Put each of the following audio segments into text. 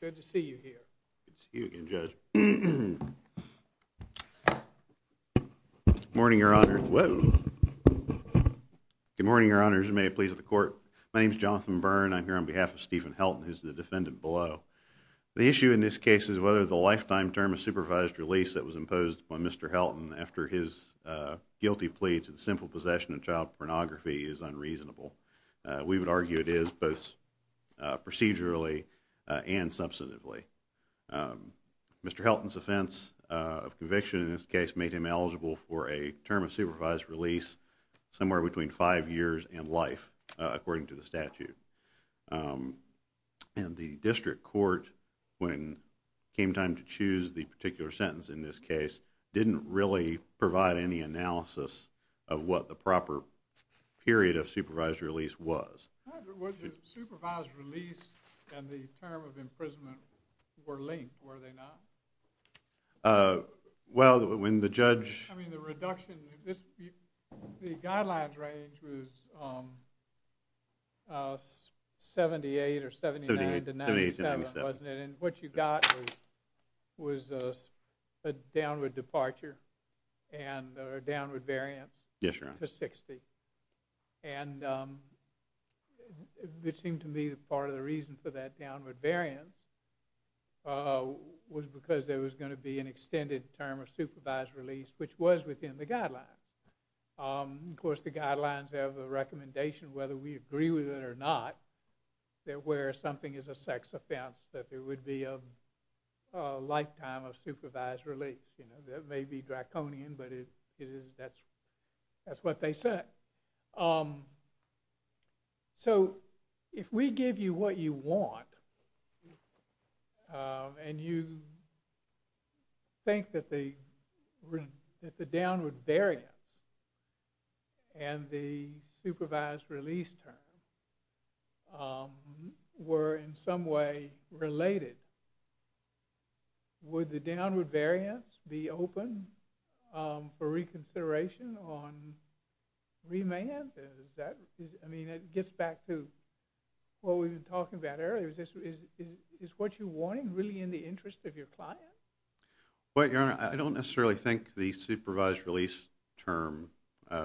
Good to see you here. Good to see you again, Judge. Good morning, Your Honor. Good morning, Your Honors, and may it please the Court. My name is Jonathan Byrne. I'm here on behalf of Steven Helton, who is the defendant below. The issue in this case is whether the lifetime term of supervised release that was imposed upon Mr. Helton after his guilty plea to the simple possession of child pornography is unreasonable. We would argue it is, both procedurally and substantively. Mr. Helton's offense of conviction in this case made him eligible for a term of supervised release somewhere between five years and life, according to the statute. And the district court, when it came time to choose the particular sentence in this case, didn't really provide any analysis of what the proper period of supervised release was. Well, the supervised release and the term of imprisonment were linked, were they not? Well, when the judge I mean, the reduction, the guidelines range was 78 or 79 to 97, wasn't it? And what you got was a downward departure and a downward variance to 60. And it seemed to me that part of the reason for that downward variance was because there was going to be an extended term of supervised release, which was within the guidelines. Of course, the guidelines have a recommendation, whether we agree with it or not, that where something is a sex offense, that there would be a lifetime of supervised release. That may be draconian, but that's what they said. So if we give you what you want, and you think that the downward variance and the supervised release term were in some way related, would the downward variance be open for reconsideration on remand? I mean, it gets back to what we've been talking about earlier. Is what you're wanting really in the interest of your client? Well, Your Honor, I don't necessarily think the supervised release term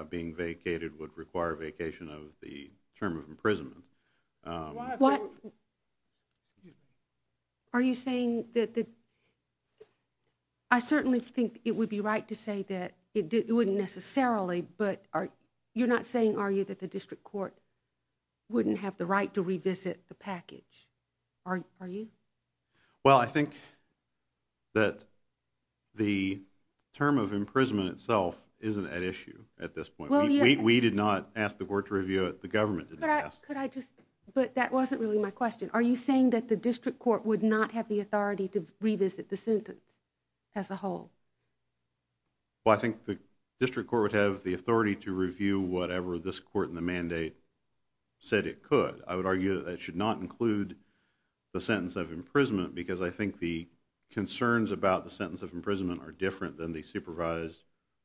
being vacated would require vacation of the term of imprisonment. Are you saying that the I certainly think it would be right to say that it wouldn't necessarily, but you're not saying, are you, that the district court wouldn't have the right to revisit the package, are you? Well, I think that the term of imprisonment itself isn't at issue at this point. We did not ask the court to review it. The government did not ask. But that wasn't really my question. Are you saying that the district court would not have the authority to revisit the sentence as a whole? Well, I think the district court would have the authority to review whatever this court in the mandate said it could. I would argue that that should not include the sentence of imprisonment because I think the concerns about the sentence of imprisonment are different than the supervised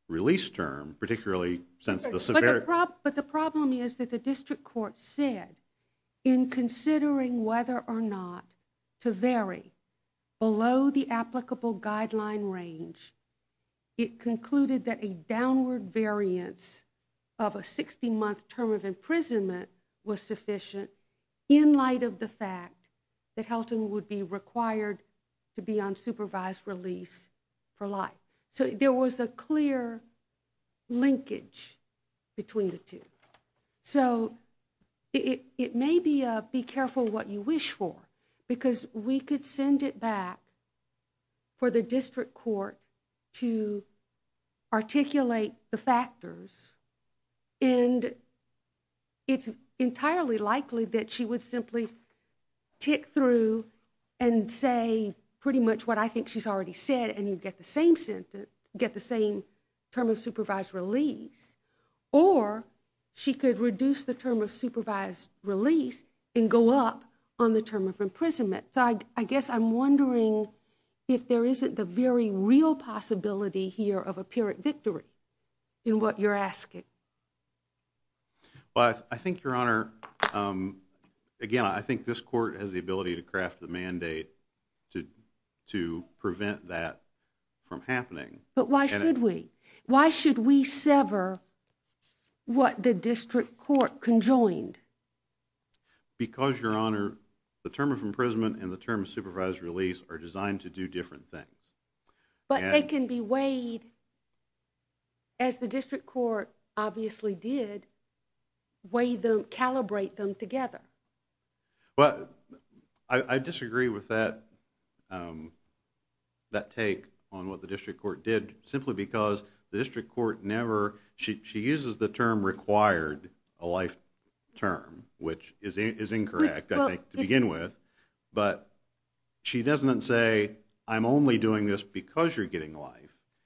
release term, particularly since the severity But the problem is that the district court said, in considering whether or not to vary below the applicable guideline range, it concluded that a downward variance of a 60-month term of imprisonment was sufficient in light of the fact that Helton would be required to be on supervised release for life. So there was a clear linkage between the two. So it may be a be careful what you wish for because we could send it back for the district court to articulate the factors and it's entirely likely that she would simply tick through and say pretty much what I think she's already said and you'd get the same sentence, get the same term of supervised release. Or she could reduce the term of supervised release and go up on the term of imprisonment. So I guess I'm wondering if there isn't the very real possibility here of a pyrrhic victory in what you're asking. But I think, Your Honor, again, I think this court has the ability to craft the mandate to prevent that from happening. But why should we? Why should we sever what the district court conjoined? Because, Your Honor, the term of imprisonment and the term of supervised release are designed to do different things. But they can be weighed, as the district court obviously did, calibrate them together. Well, I disagree with that take on what the district court did, simply because the district court never – she uses the term required a life term, which is incorrect, I think, to begin with. But she doesn't say I'm only doing this because you're getting life.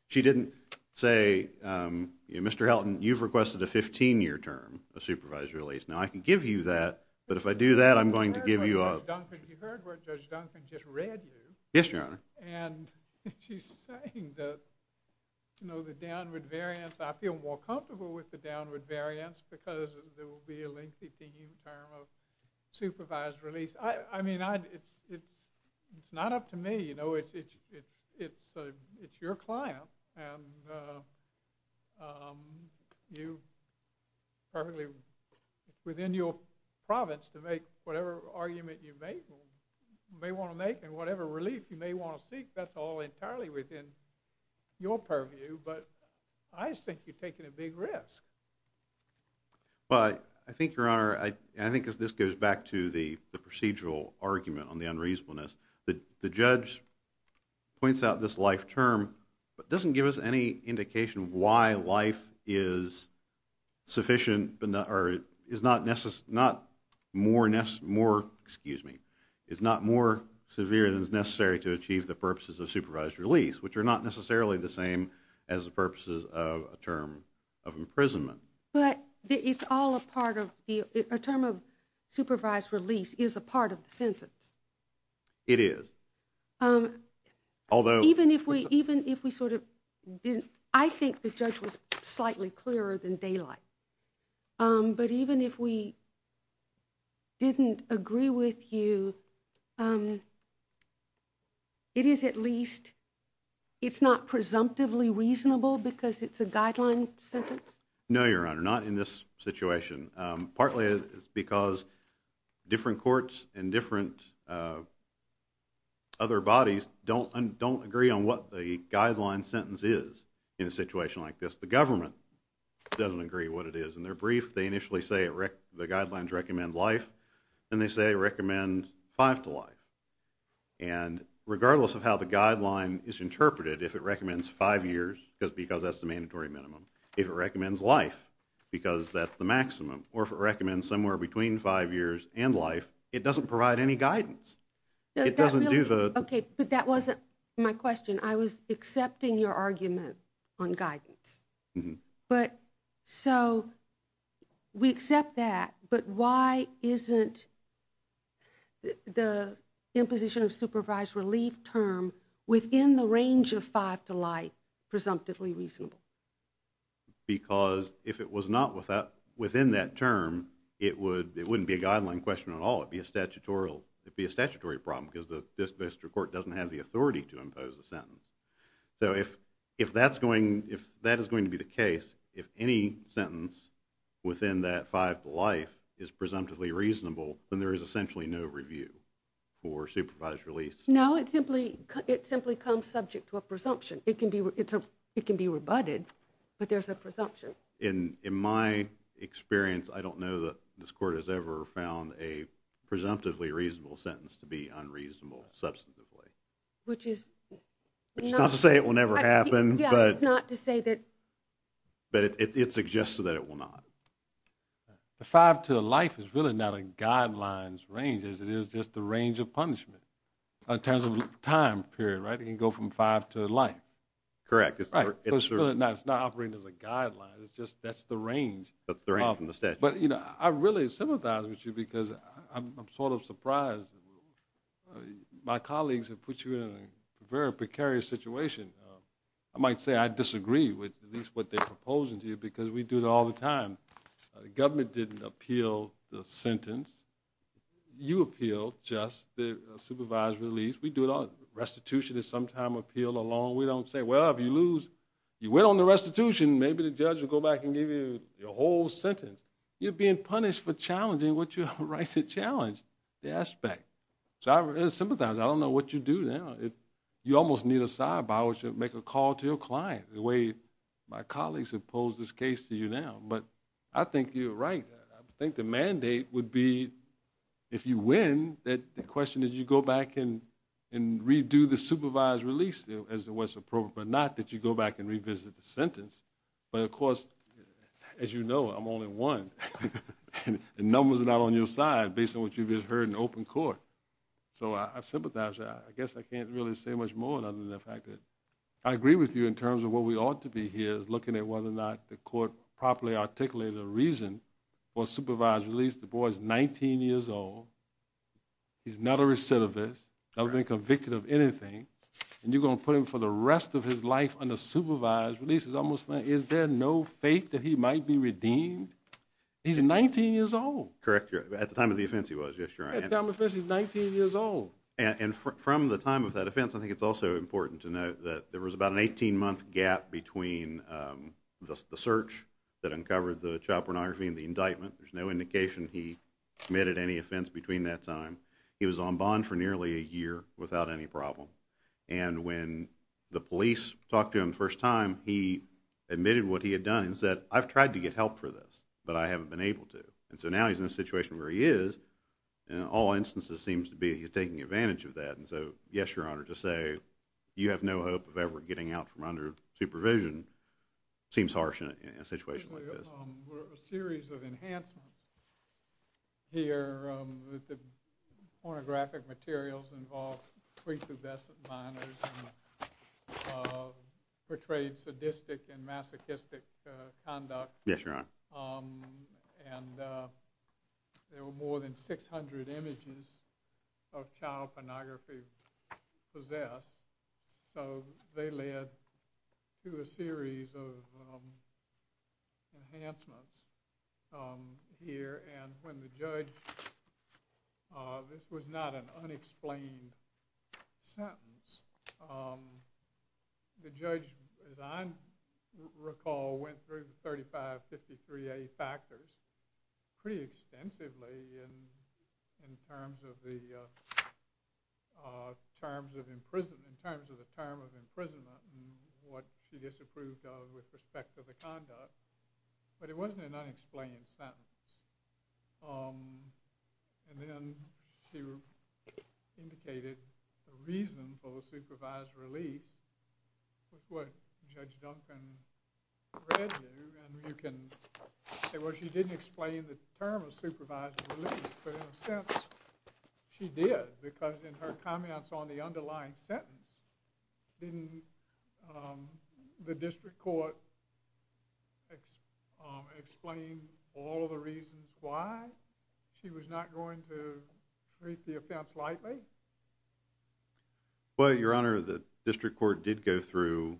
She didn't say, Mr. Helton, you've requested a 15-year term of supervised release. Now, I can give you that, but if I do that, I'm going to give you a – You heard what Judge Duncan just read you. Yes, Your Honor. And she's saying that, you know, the downward variance – I feel more comfortable with the downward variance because there will be a lengthy term of supervised release. I mean, it's not up to me. You know, it's your client, and you currently – within your province to make whatever argument you may want to make and whatever relief you may want to seek, that's all entirely within your purview. But I think you're taking a big risk. Well, I think, Your Honor, I think this goes back to the procedural argument on the unreasonableness. The judge points out this life term but doesn't give us any indication why life is sufficient – or is not more – excuse me – is not more severe than is necessary to achieve the purposes of supervised release, which are not necessarily the same as the purposes of a term of imprisonment. But it's all a part of – a term of supervised release is a part of the sentence. It is. Although – Even if we sort of – I think the judge was slightly clearer than daylight. But even if we didn't agree with you, it is at least – it's not presumptively reasonable because it's a guideline sentence? No, Your Honor, not in this situation. Partly it's because different courts and different other bodies don't agree on what the guideline sentence is in a situation like this. The government doesn't agree what it is. In their brief, they initially say the guidelines recommend life, and they say recommend five to life. And regardless of how the guideline is interpreted, if it recommends five years because that's the mandatory minimum, if it recommends life because that's the maximum, or if it recommends somewhere between five years and life, it doesn't provide any guidance. It doesn't do the – Okay, but that wasn't my question. I was accepting your argument on guidance. But so we accept that, but why isn't the imposition of supervised relief term within the range of five to life presumptively reasonable? Because if it was not within that term, it wouldn't be a guideline question at all. It would be a statutory problem because the district court doesn't have the authority to impose a sentence. So if that is going to be the case, if any sentence within that five to life is presumptively reasonable, then there is essentially no review for supervised relief. No, it simply comes subject to a presumption. It can be rebutted, but there's a presumption. In my experience, I don't know that this court has ever found a presumptively reasonable sentence to be unreasonable substantively. Which is not – Which is not to say it will never happen. Yeah, it's not to say that – But it suggests that it will not. The five to life is really not a guidelines range as it is just the range of punishment. In terms of time period, right? It can go from five to life. Correct. It's not operating as a guideline. It's just that's the range. That's the range from the statute. But, you know, I really sympathize with you because I'm sort of surprised. My colleagues have put you in a very precarious situation. I might say I disagree with at least what they're proposing to you because we do it all the time. The government didn't appeal the sentence. You appealed just the supervised release. We do it all. Restitution is sometime appealed alone. We don't say, well, if you lose, you win on the restitution, maybe the judge will go back and give you your whole sentence. You're being punished for challenging what you're right to challenge, the aspect. So I sympathize. I don't know what you do now. You almost need a side by which to make a call to your client the way my colleagues have posed this case to you now. But I think you're right. I think the mandate would be if you win, the question is you go back and redo the supervised release as to what's appropriate, but not that you go back and revisit the sentence. But, of course, as you know, I'm only one. And numbers are not on your side based on what you've just heard in open court. So I sympathize. I guess I can't really say much more other than the fact that I agree with you in terms of what we ought to be here looking at whether or not the court properly articulated a reason for supervised release. The boy is 19 years old. He's not a recidivist, never been convicted of anything. And you're going to put him for the rest of his life under supervised release? Is there no faith that he might be redeemed? He's 19 years old. Correct. At the time of the offense he was, yes, Your Honor. At the time of the offense, he's 19 years old. And from the time of that offense, I think it's also important to note that there was about an 18-month gap between the search that uncovered the child pornography and the indictment. There's no indication he committed any offense between that time. He was on bond for nearly a year without any problem. And when the police talked to him the first time, he admitted what he had done and said, I've tried to get help for this, but I haven't been able to. And so now he's in a situation where he is, in all instances seems to be he's taking advantage of that. And so, yes, Your Honor, to say you have no hope of ever getting out from under supervision seems harsh in a situation like this. There were a series of enhancements here. The pornographic materials involved pre-cubescent minors and portrayed sadistic and masochistic conduct. Yes, Your Honor. And there were more than 600 images of child pornography possessed. So they led to a series of enhancements here. And when the judge, this was not an unexplained sentence. The judge, as I recall, went through the 3553A factors pretty extensively in terms of the term of imprisonment and what she disapproved of with respect to the conduct. But it wasn't an unexplained sentence. And then she indicated a reasonable supervised release, which is what Judge Duncan read you. Well, she didn't explain the term of supervised release, but in a sense she did because in her comments on the underlying sentence, didn't the district court explain all of the reasons why she was not going to treat the offense lightly? Well, Your Honor, the district court did go through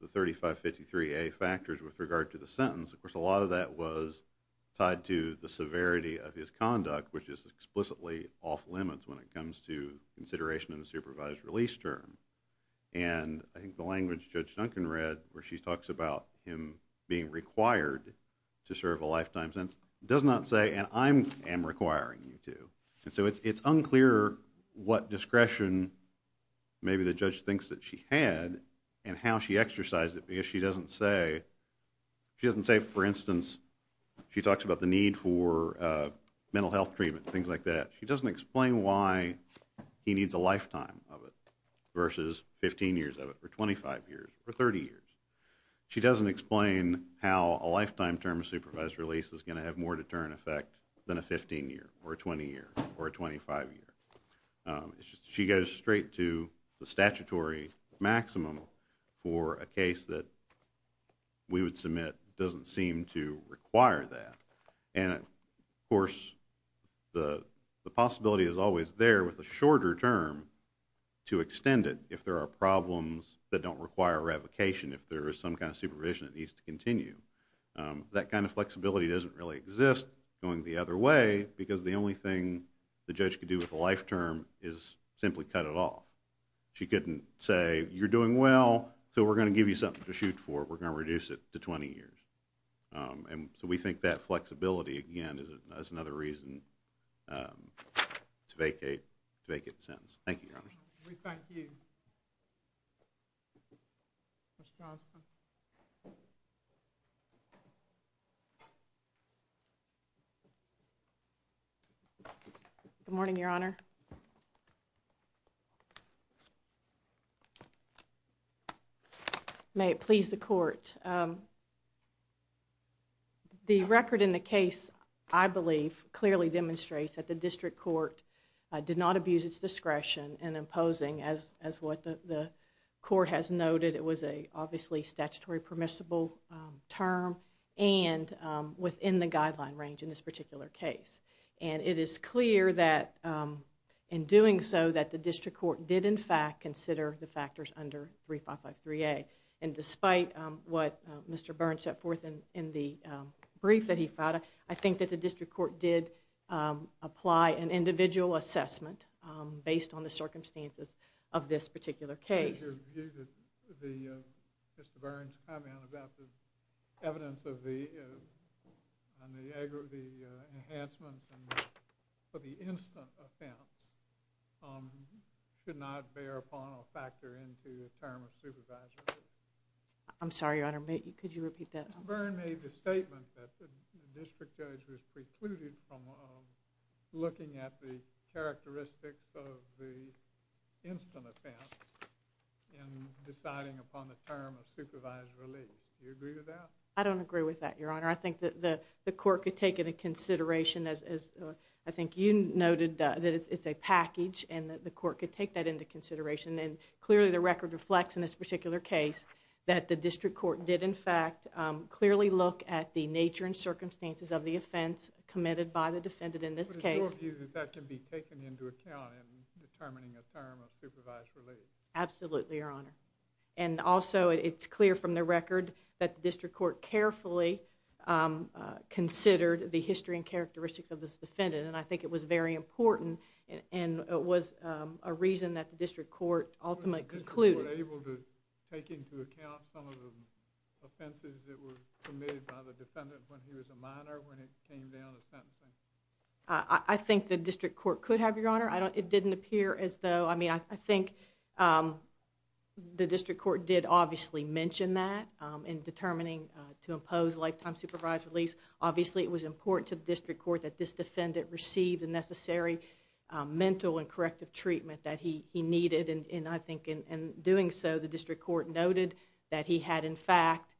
the 3553A factors with regard to the sentence. Of course, a lot of that was tied to the severity of his conduct, which is explicitly off limits when it comes to consideration of the supervised release term. And I think the language Judge Duncan read, where she talks about him being required to serve a lifetime sentence, does not say, and I am requiring you to. And so it's unclear what discretion maybe the judge thinks that she had and how she exercised it because she doesn't say, she doesn't say, for instance, she talks about the need for mental health treatment, things like that. She doesn't explain why he needs a lifetime of it versus 15 years of it or 25 years or 30 years. She doesn't explain how a lifetime term of supervised release is going to have more deterrent effect than a 15-year or a 20-year or a 25-year. She goes straight to the statutory maximum for a case that we would submit doesn't seem to require that. And, of course, the possibility is always there with a shorter term to extend it if there are problems that don't require revocation, if there is some kind of supervision that needs to continue. That kind of flexibility doesn't really exist going the other way because the only thing the judge could do with a life term is simply cut it off. She couldn't say, you're doing well, so we're going to give you something to shoot for, we're going to reduce it to 20 years. And so we think that flexibility, again, is another reason to vacate the sentence. Thank you, Your Honor. We thank you. Ms. Johnston. Good morning, Your Honor. May it please the Court. The record in the case, I believe, clearly demonstrates that the district court did not abuse its discretion in imposing as what the Court has noted. It was a, obviously, statutory permissible term and within the guideline range in this particular case. And it is clear that in doing so that the district court did, in fact, consider the factors under 3553A. And despite what Mr. Burns set forth in the brief that he filed, I think that the district court did apply an individual assessment based on the circumstances of this particular case. In your view, Mr. Burns' comment about the evidence of the enhancements for the instant offense should not bear upon or factor into the term of supervisory. I'm sorry, Your Honor. Could you repeat that? Mr. Burns made the statement that the district judge was precluded from looking at the characteristics of the instant offense in deciding upon the term of supervised release. Do you agree with that? I don't agree with that, Your Honor. I think that the court could take into consideration, as I think you noted that it's a package and that the court could take that into consideration. And clearly the record reflects in this particular case that the district court did, in fact, clearly look at the nature and circumstances of the offense committed by the defendant in this case. But it's your view that that can be taken into account in determining a term of supervised release? Absolutely, Your Honor. And also it's clear from the record that the district court carefully considered the history and characteristics of this defendant, and I think it was very important and was a reason that the district court ultimately concluded. Was the district court able to take into account some of the offenses that were committed by the defendant when he was a minor when it came down to sentencing? I think the district court could have, Your Honor. It didn't appear as though, I mean, I think the district court did obviously mention that in determining to impose lifetime supervised release. Obviously it was important to the district court that this defendant receive the necessary mental and corrective treatment that he needed, and I think in doing so the district court noted that he had, in fact...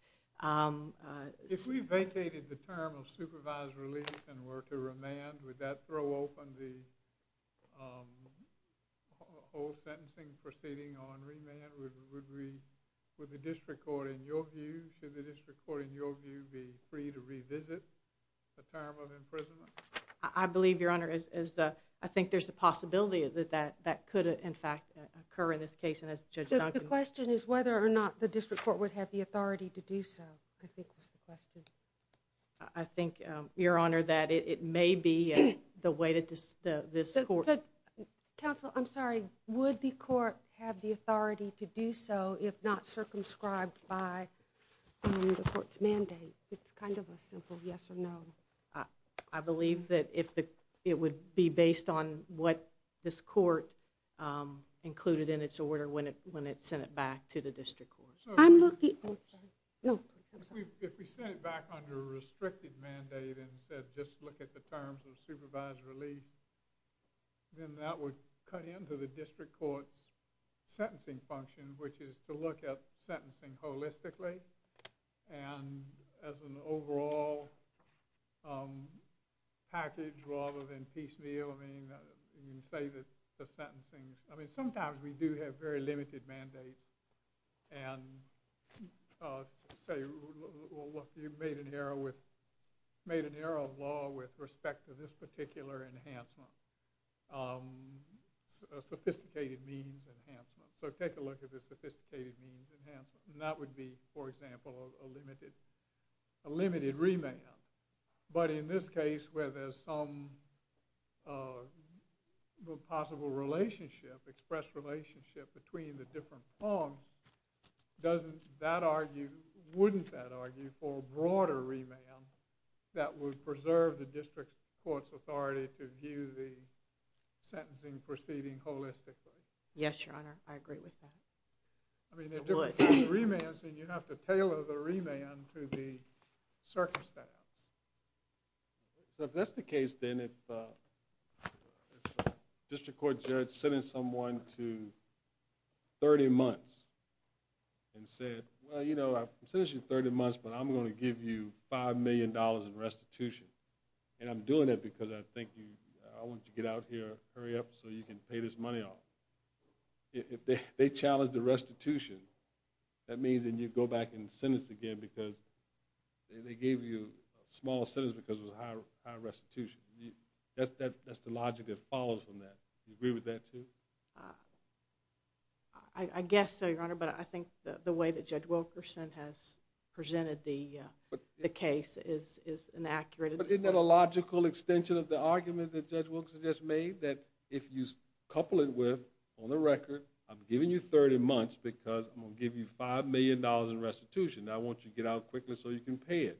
If we vacated the term of supervised release and were to remand, would that throw open the whole sentencing proceeding on remand? Would the district court, in your view, should the district court, in your view, be free to revisit the term of imprisonment? I believe, Your Honor, I think there's a possibility that that could, in fact, occur in this case, and as Judge Duncan... The question is whether or not the district court would have the authority to do so, I think was the question. I think, Your Honor, that it may be the way that this court... Counsel, I'm sorry. Would the court have the authority to do so if not circumscribed by the court's mandate? It's kind of a simple yes or no. I believe that it would be based on what this court included in its order when it sent it back to the district court. I'm looking... If we sent it back under a restricted mandate and said, just look at the terms of supervised release, then that would cut into the district court's sentencing function, which is to look at sentencing holistically and as an overall package rather than piecemeal. I mean, you can say that the sentencing... I mean, sometimes we do have very limited mandates and say, look, you've made an error of law with respect to this particular enhancement, a sophisticated means enhancement. So take a look at the sophisticated means enhancement, and that would be, for example, a limited remand. But in this case, where there's some possible relationship expressed relationship between the different forms, wouldn't that argue for a broader remand that would preserve the district court's authority to view the sentencing proceeding holistically? Yes, Your Honor, I agree with that. I mean, if there were remands, then you'd have to tailor the remand to the circumstance. So if that's the case, then, if a district court judge sentenced someone to 30 months and said, well, you know, I've sentenced you 30 months, but I'm going to give you $5 million in restitution, and I'm doing it because I think you... I want you to get out here, hurry up, so you can pay this money off. If they challenge the restitution, that means then you go back and sentence again because they gave you a smaller sentence because it was higher restitution. That's the logic that follows from that. Do you agree with that, too? I guess so, Your Honor, but I think the way that Judge Wilkerson has presented the case is inaccurate. But isn't that a logical extension of the argument that Judge Wilkerson just made, that if you couple it with, on the record, I'm giving you 30 months because I'm going to give you $5 million in restitution, and I want you to get out quickly so you can pay it.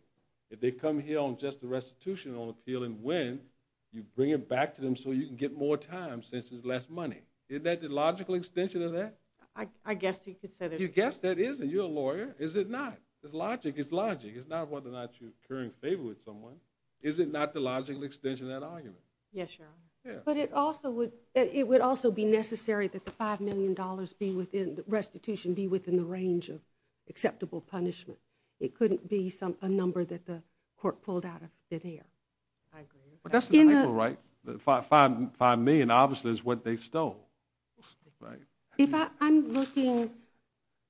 If they come here on just the restitution appeal and win, you bring it back to them so you can get more time since there's less money. Isn't that the logical extension of that? I guess you could say that. You guess that, isn't it? You're a lawyer. Is it not? It's logic. It's logic. It's not whether or not you're incurring favor with someone. Is it not the logical extension of that argument? Yes, Your Honor. But it would also be necessary that the $5 million be within... restitution be within the range of acceptable punishment. It couldn't be a number that the court pulled out of thin air. I agree. $5 million, obviously, is what they stole. If I'm looking...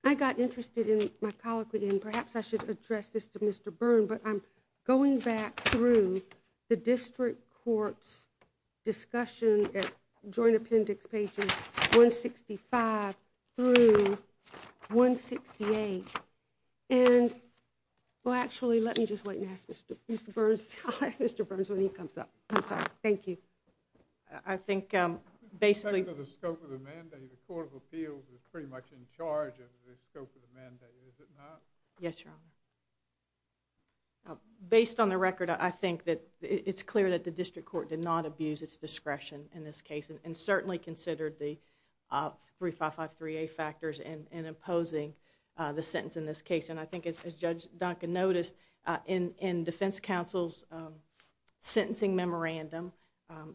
I got interested in my colloquy, and perhaps I should address this to Mr. Byrne, but I'm going back through the district court's discussion at Joint Appendix pages 165 through 168, and... well, actually, let me just wait and ask Mr. Byrne. I'll ask Mr. Byrne when he comes up. I'm sorry. Thank you. I think, basically... The scope of the mandate, the Court of Appeals is pretty much in charge of the scope of the mandate. Is it not? Yes, Your Honor. Based on the record, I think that it's clear that the district court did not abuse its discretion in this case and certainly considered the 3553A factors in imposing the sentence in this case. And I think, as Judge Duncan noticed, in defense counsel's sentencing memorandum,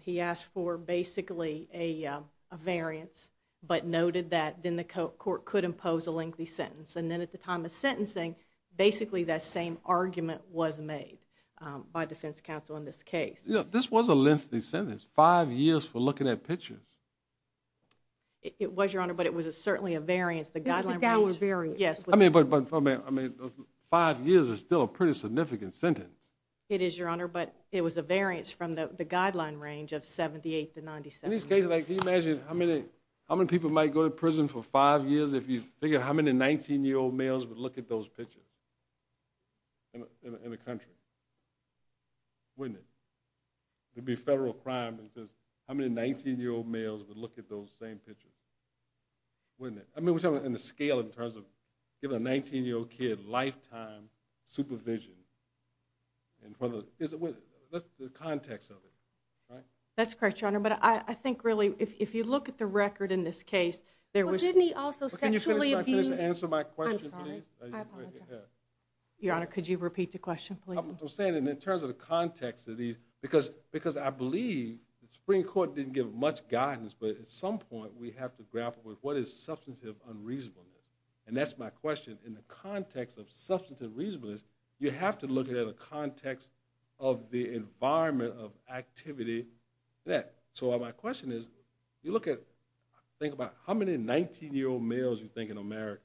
he asked for basically a variance, but noted that then the court could impose a lengthy sentence. And then at the time of sentencing, basically that same argument was made by defense counsel in this case. This was a lengthy sentence. Five years for looking at pictures. It was, Your Honor, but it was certainly a variance. It was a downward variance. But five years is still a pretty significant sentence. It is, Your Honor, but it was a variance from the guideline range of 78 to 97. In this case, can you imagine how many people might go to prison for five years if you figured how many 19-year-old males would look at those pictures in the country? Wouldn't it? It would be federal crime because how many 19-year-old males would look at those same pictures? Wouldn't it? I mean, we're talking in the scale in terms of giving a 19-year-old kid lifetime supervision. That's the context of it, right? That's correct, Your Honor, but I think, really, if you look at the record in this case, there was... But didn't he also sexually abuse... Can you finish by answering my question, please? I'm sorry, I apologize. Your Honor, could you repeat the question, please? I'm saying it in terms of the context of these because I believe the Supreme Court didn't give much guidance, but at some point we have to grapple with what is substantive unreasonableness, and that's my question. In the context of substantive reasonableness, you have to look at it in the context of the environment of activity. So my question is, you look at... Think about how many 19-year-old males do you think in America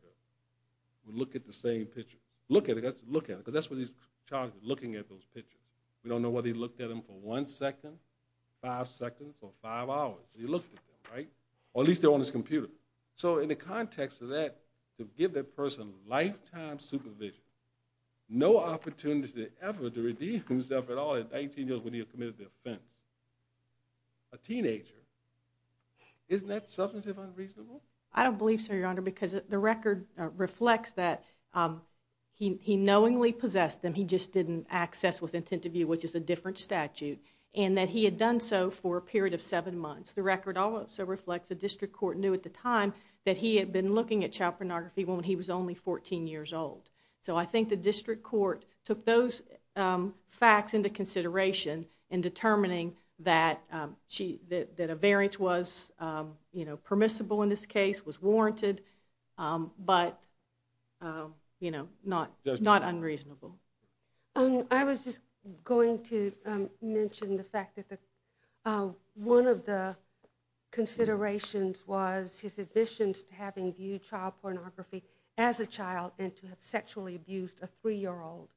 would look at the same picture? Look at it, because that's what he's charged with, looking at those pictures. We don't know whether he looked at them for one second, five seconds, or five hours. He looked at them, right? Or at least they're on his computer. So in the context of that, to give that person lifetime supervision, no opportunity ever to redeem himself at all at 19 years when he had committed the offense. A teenager. Isn't that substantive unreasonableness? I don't believe so, Your Honor, because the record reflects that he knowingly possessed them, he just didn't access with intent of view, which is a different statute, and that he had done so for a period of seven months. The record also reflects the district court knew at the time that he had been looking at child pornography when he was only 14 years old. So I think the district court took those facts into consideration in determining that a variance was permissible in this case, was warranted, but, you know, not unreasonable. I was just going to mention the fact that one of the considerations was his admissions to having viewed child pornography as a child and to have sexually abused a 3-year-old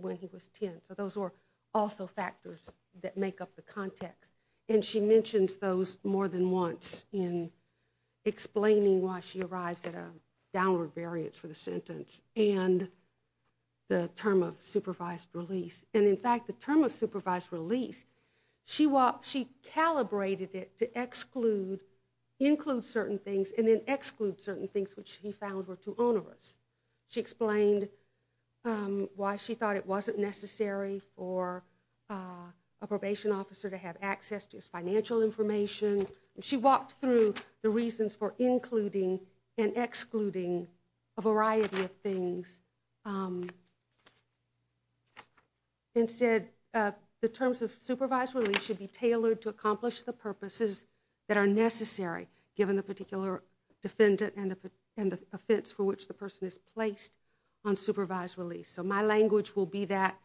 when he was 10. So those were also factors that make up the context. And she mentions those more than once in explaining why she arrives at a downward variance for the sentence and the term of supervised release. And, in fact, the term of supervised release, she calibrated it to exclude, include certain things, and then exclude certain things which he found were too onerous. She explained why she thought it wasn't necessary for a probation officer to have access to his financial information. She walked through the reasons for including and excluding a variety of things and said the terms of supervised release should be tailored to accomplish the purposes that are necessary given the particular defendant and the offense for which the person is placed on supervised release. So my language will be that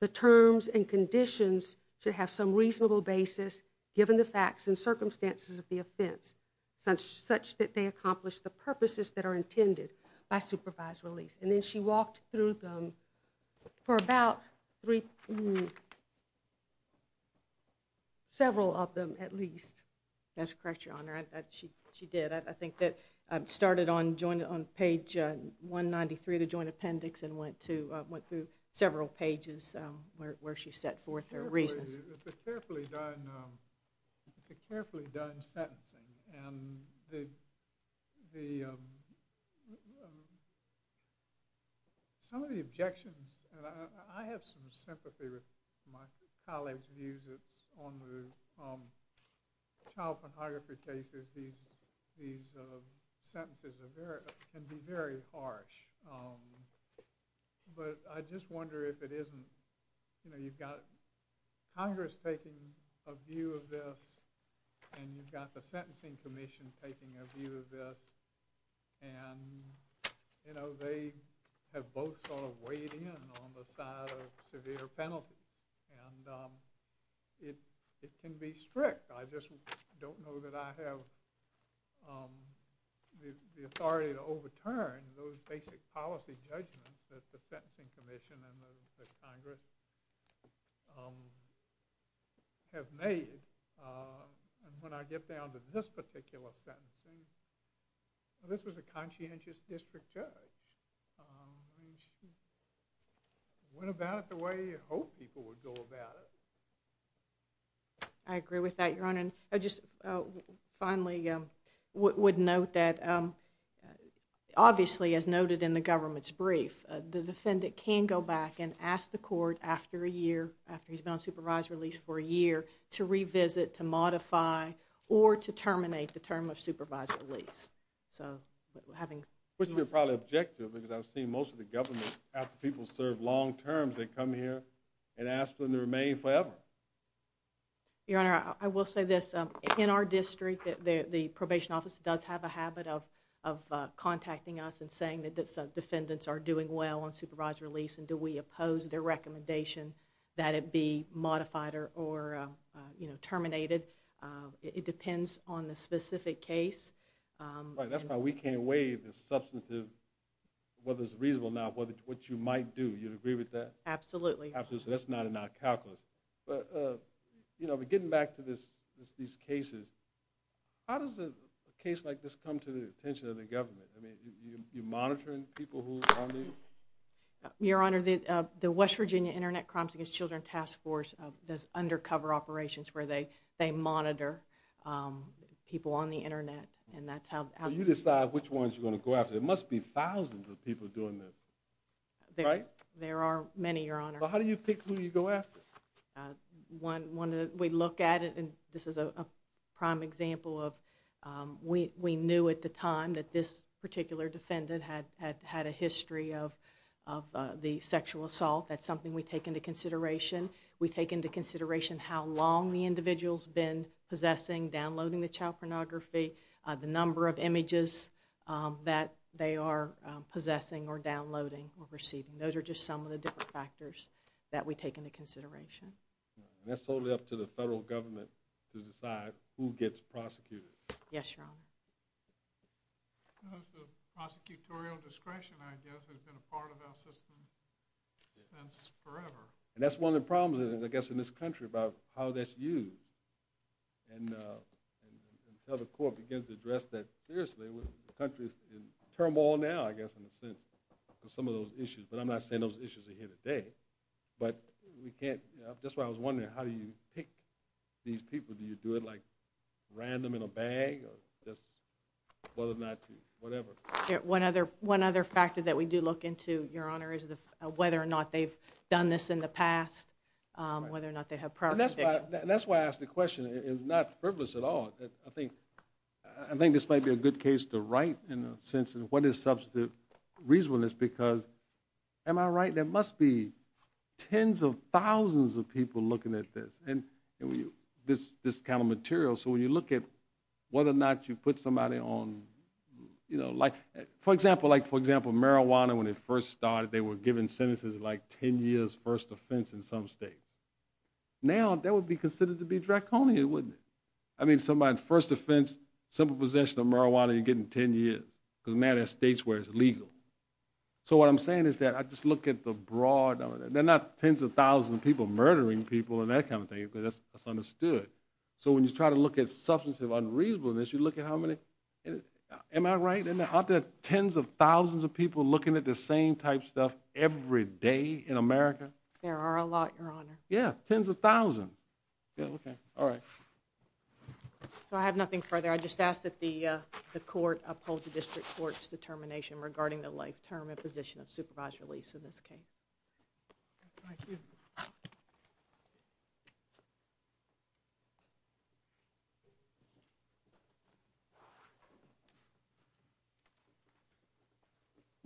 the terms and conditions should have some reasonable basis given the facts and circumstances of the offense such that they accomplish the purposes that are intended by supervised release. And then she walked through them for about three... several of them at least. That's correct, Your Honor. She did. I think that started on page 193, the joint appendix, and went through several pages where she set forth her reasons. It's a carefully done... It's a carefully done sentencing. And the... Some of the objections, and I have some sympathy with my colleagues' views on the child pornography cases. These sentences can be very harsh. But I just wonder if it isn't... You've got Congress taking a view of this, and you've got the Sentencing Commission taking a view of this, and they have both sort of weighed in on the side of severe penalty. And it can be strict. I just don't know that I have the authority to overturn those basic policy judgments that the Sentencing Commission and the Congress have made. And when I get down to this particular sentencing, this was a conscientious district judge. I mean, she went about it the way you'd hope people would go about it. I agree with that, Your Honor. I just finally would note that, obviously, as noted in the government's brief, the defendant can go back and ask the court after a year, after he's been on supervised release for a year, to revisit, to modify, or to terminate the term of supervised release. So, having... Which would be probably objective because I've seen most of the government, after people serve long terms, they come here and ask for them to remain forever. Your Honor, I will say this. In our district, the probation office does have a habit of contacting us and saying that some defendants are doing well on supervised release, and do we oppose their recommendation that it be modified or terminated. It depends on the specific case. That's why we can't weigh the substantive, whether it's reasonable or not, what you might do. Do you agree with that? Absolutely. Absolutely. That's not in our calculus. But getting back to these cases, how does a case like this come to the attention of the government? Are you monitoring people who are on these? Your Honor, the West Virginia Internet Crimes Against Children Task Force does undercover operations where they monitor people on the Internet. So you decide which ones you're going to go after. There must be thousands of people doing this. Right? There are many, Your Honor. How do you pick who you go after? We look at it, and this is a prime example of we knew at the time that this particular defendant had a history of the sexual assault. That's something we take into consideration. We take into consideration how long the individual's been possessing, downloading the child pornography, the number of images that they are possessing or downloading or receiving. Those are just some of the different factors that we take into consideration. And that's totally up to the federal government to decide who gets prosecuted. Yes, Your Honor. The prosecutorial discretion, I guess, has been a part of our system since forever. And that's one of the problems, I guess, in this country about how that's used. And until the court begins to address that seriously, the country's in turmoil now, I guess, in a sense, for some of those issues. But I'm not saying those issues are here today. But we can't... That's why I was wondering, how do you pick these people? Do you do it, like, random in a bag? Or just whether or not you... whatever. One other factor that we do look into, Your Honor, is whether or not they've done this in the past, whether or not they have prior conviction. That's why I ask the question. It's not frivolous at all. I think this might be a good case to write in a sense in what is substantive reasonableness because, am I right? There must be tens of thousands of people looking at this, this kind of material. So when you look at whether or not you put somebody on... For example, marijuana, when it first started, they were given sentences like 10 years first offense in some states. Now, that would be considered to be draconian, wouldn't it? I mean, somebody's first offense, simple possession of marijuana, you're getting 10 years. Because now there are states where it's illegal. So what I'm saying is that I just look at the broad... There are not tens of thousands of people murdering people and that kind of thing. That's understood. So when you try to look at substantive unreasonableness, you look at how many... Am I right? Aren't there tens of thousands of people looking at the same type of stuff every day in America? There are a lot, Your Honor. Yeah, tens of thousands. Yeah, okay, all right. So I have nothing further. I just ask that the court uphold the district court's determination regarding the life term and position of supervised release in this case. Thank you.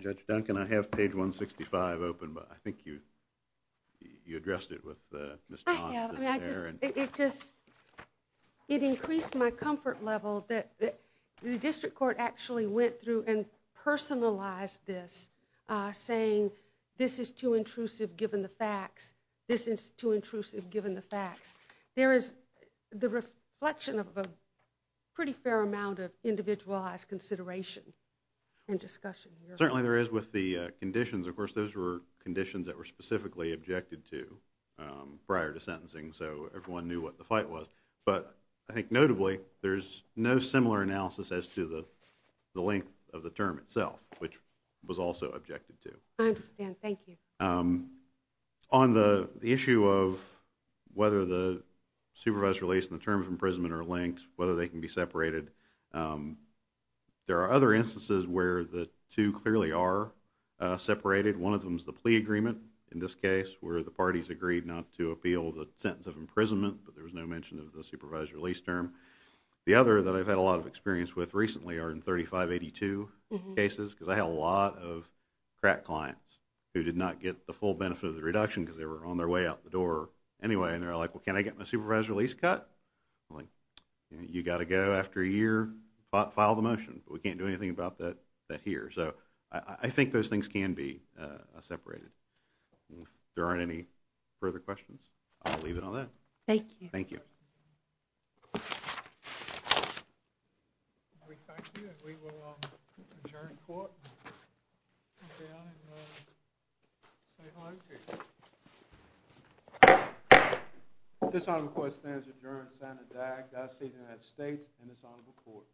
Judge Duncan, I have page 165 open, but I think you addressed it with Ms. Nance. I have. It just... It increased my comfort level that the district court actually went through and personalized this, saying this is too intrusive given the facts, this is too intrusive given the facts. There is the reflection of a pretty fair amount of individualized consideration and discussion here. Certainly there is with the conditions. Of course, those were conditions that were specifically objected to prior to sentencing, so everyone knew what the fight was. But I think notably there's no similar analysis as to the length of the term itself, which was also objected to. I understand. Thank you. On the issue of whether the supervised release and the term of imprisonment are linked, whether they can be separated, there are other instances where the two clearly are separated. One of them is the plea agreement, in this case, where the parties agreed not to appeal the sentence of imprisonment, but there was no mention of the supervised release term. The other that I've had a lot of experience with recently are in 3582 cases, because I have a lot of crack clients who did not get the full benefit of the reduction because they were on their way out the door anyway, and they're like, well, can I get my supervised release cut? I'm like, you got to go after a year, file the motion, but we can't do anything about that here. So I think those things can be separated. If there aren't any further questions, I'll leave it on that. Thank you. Thank you. We thank you, and we will adjourn court and come down and say hello to you. This Honorable Court stands adjourned. Senator Dagg, Dossie, United States, and this Honorable Court. Thank you.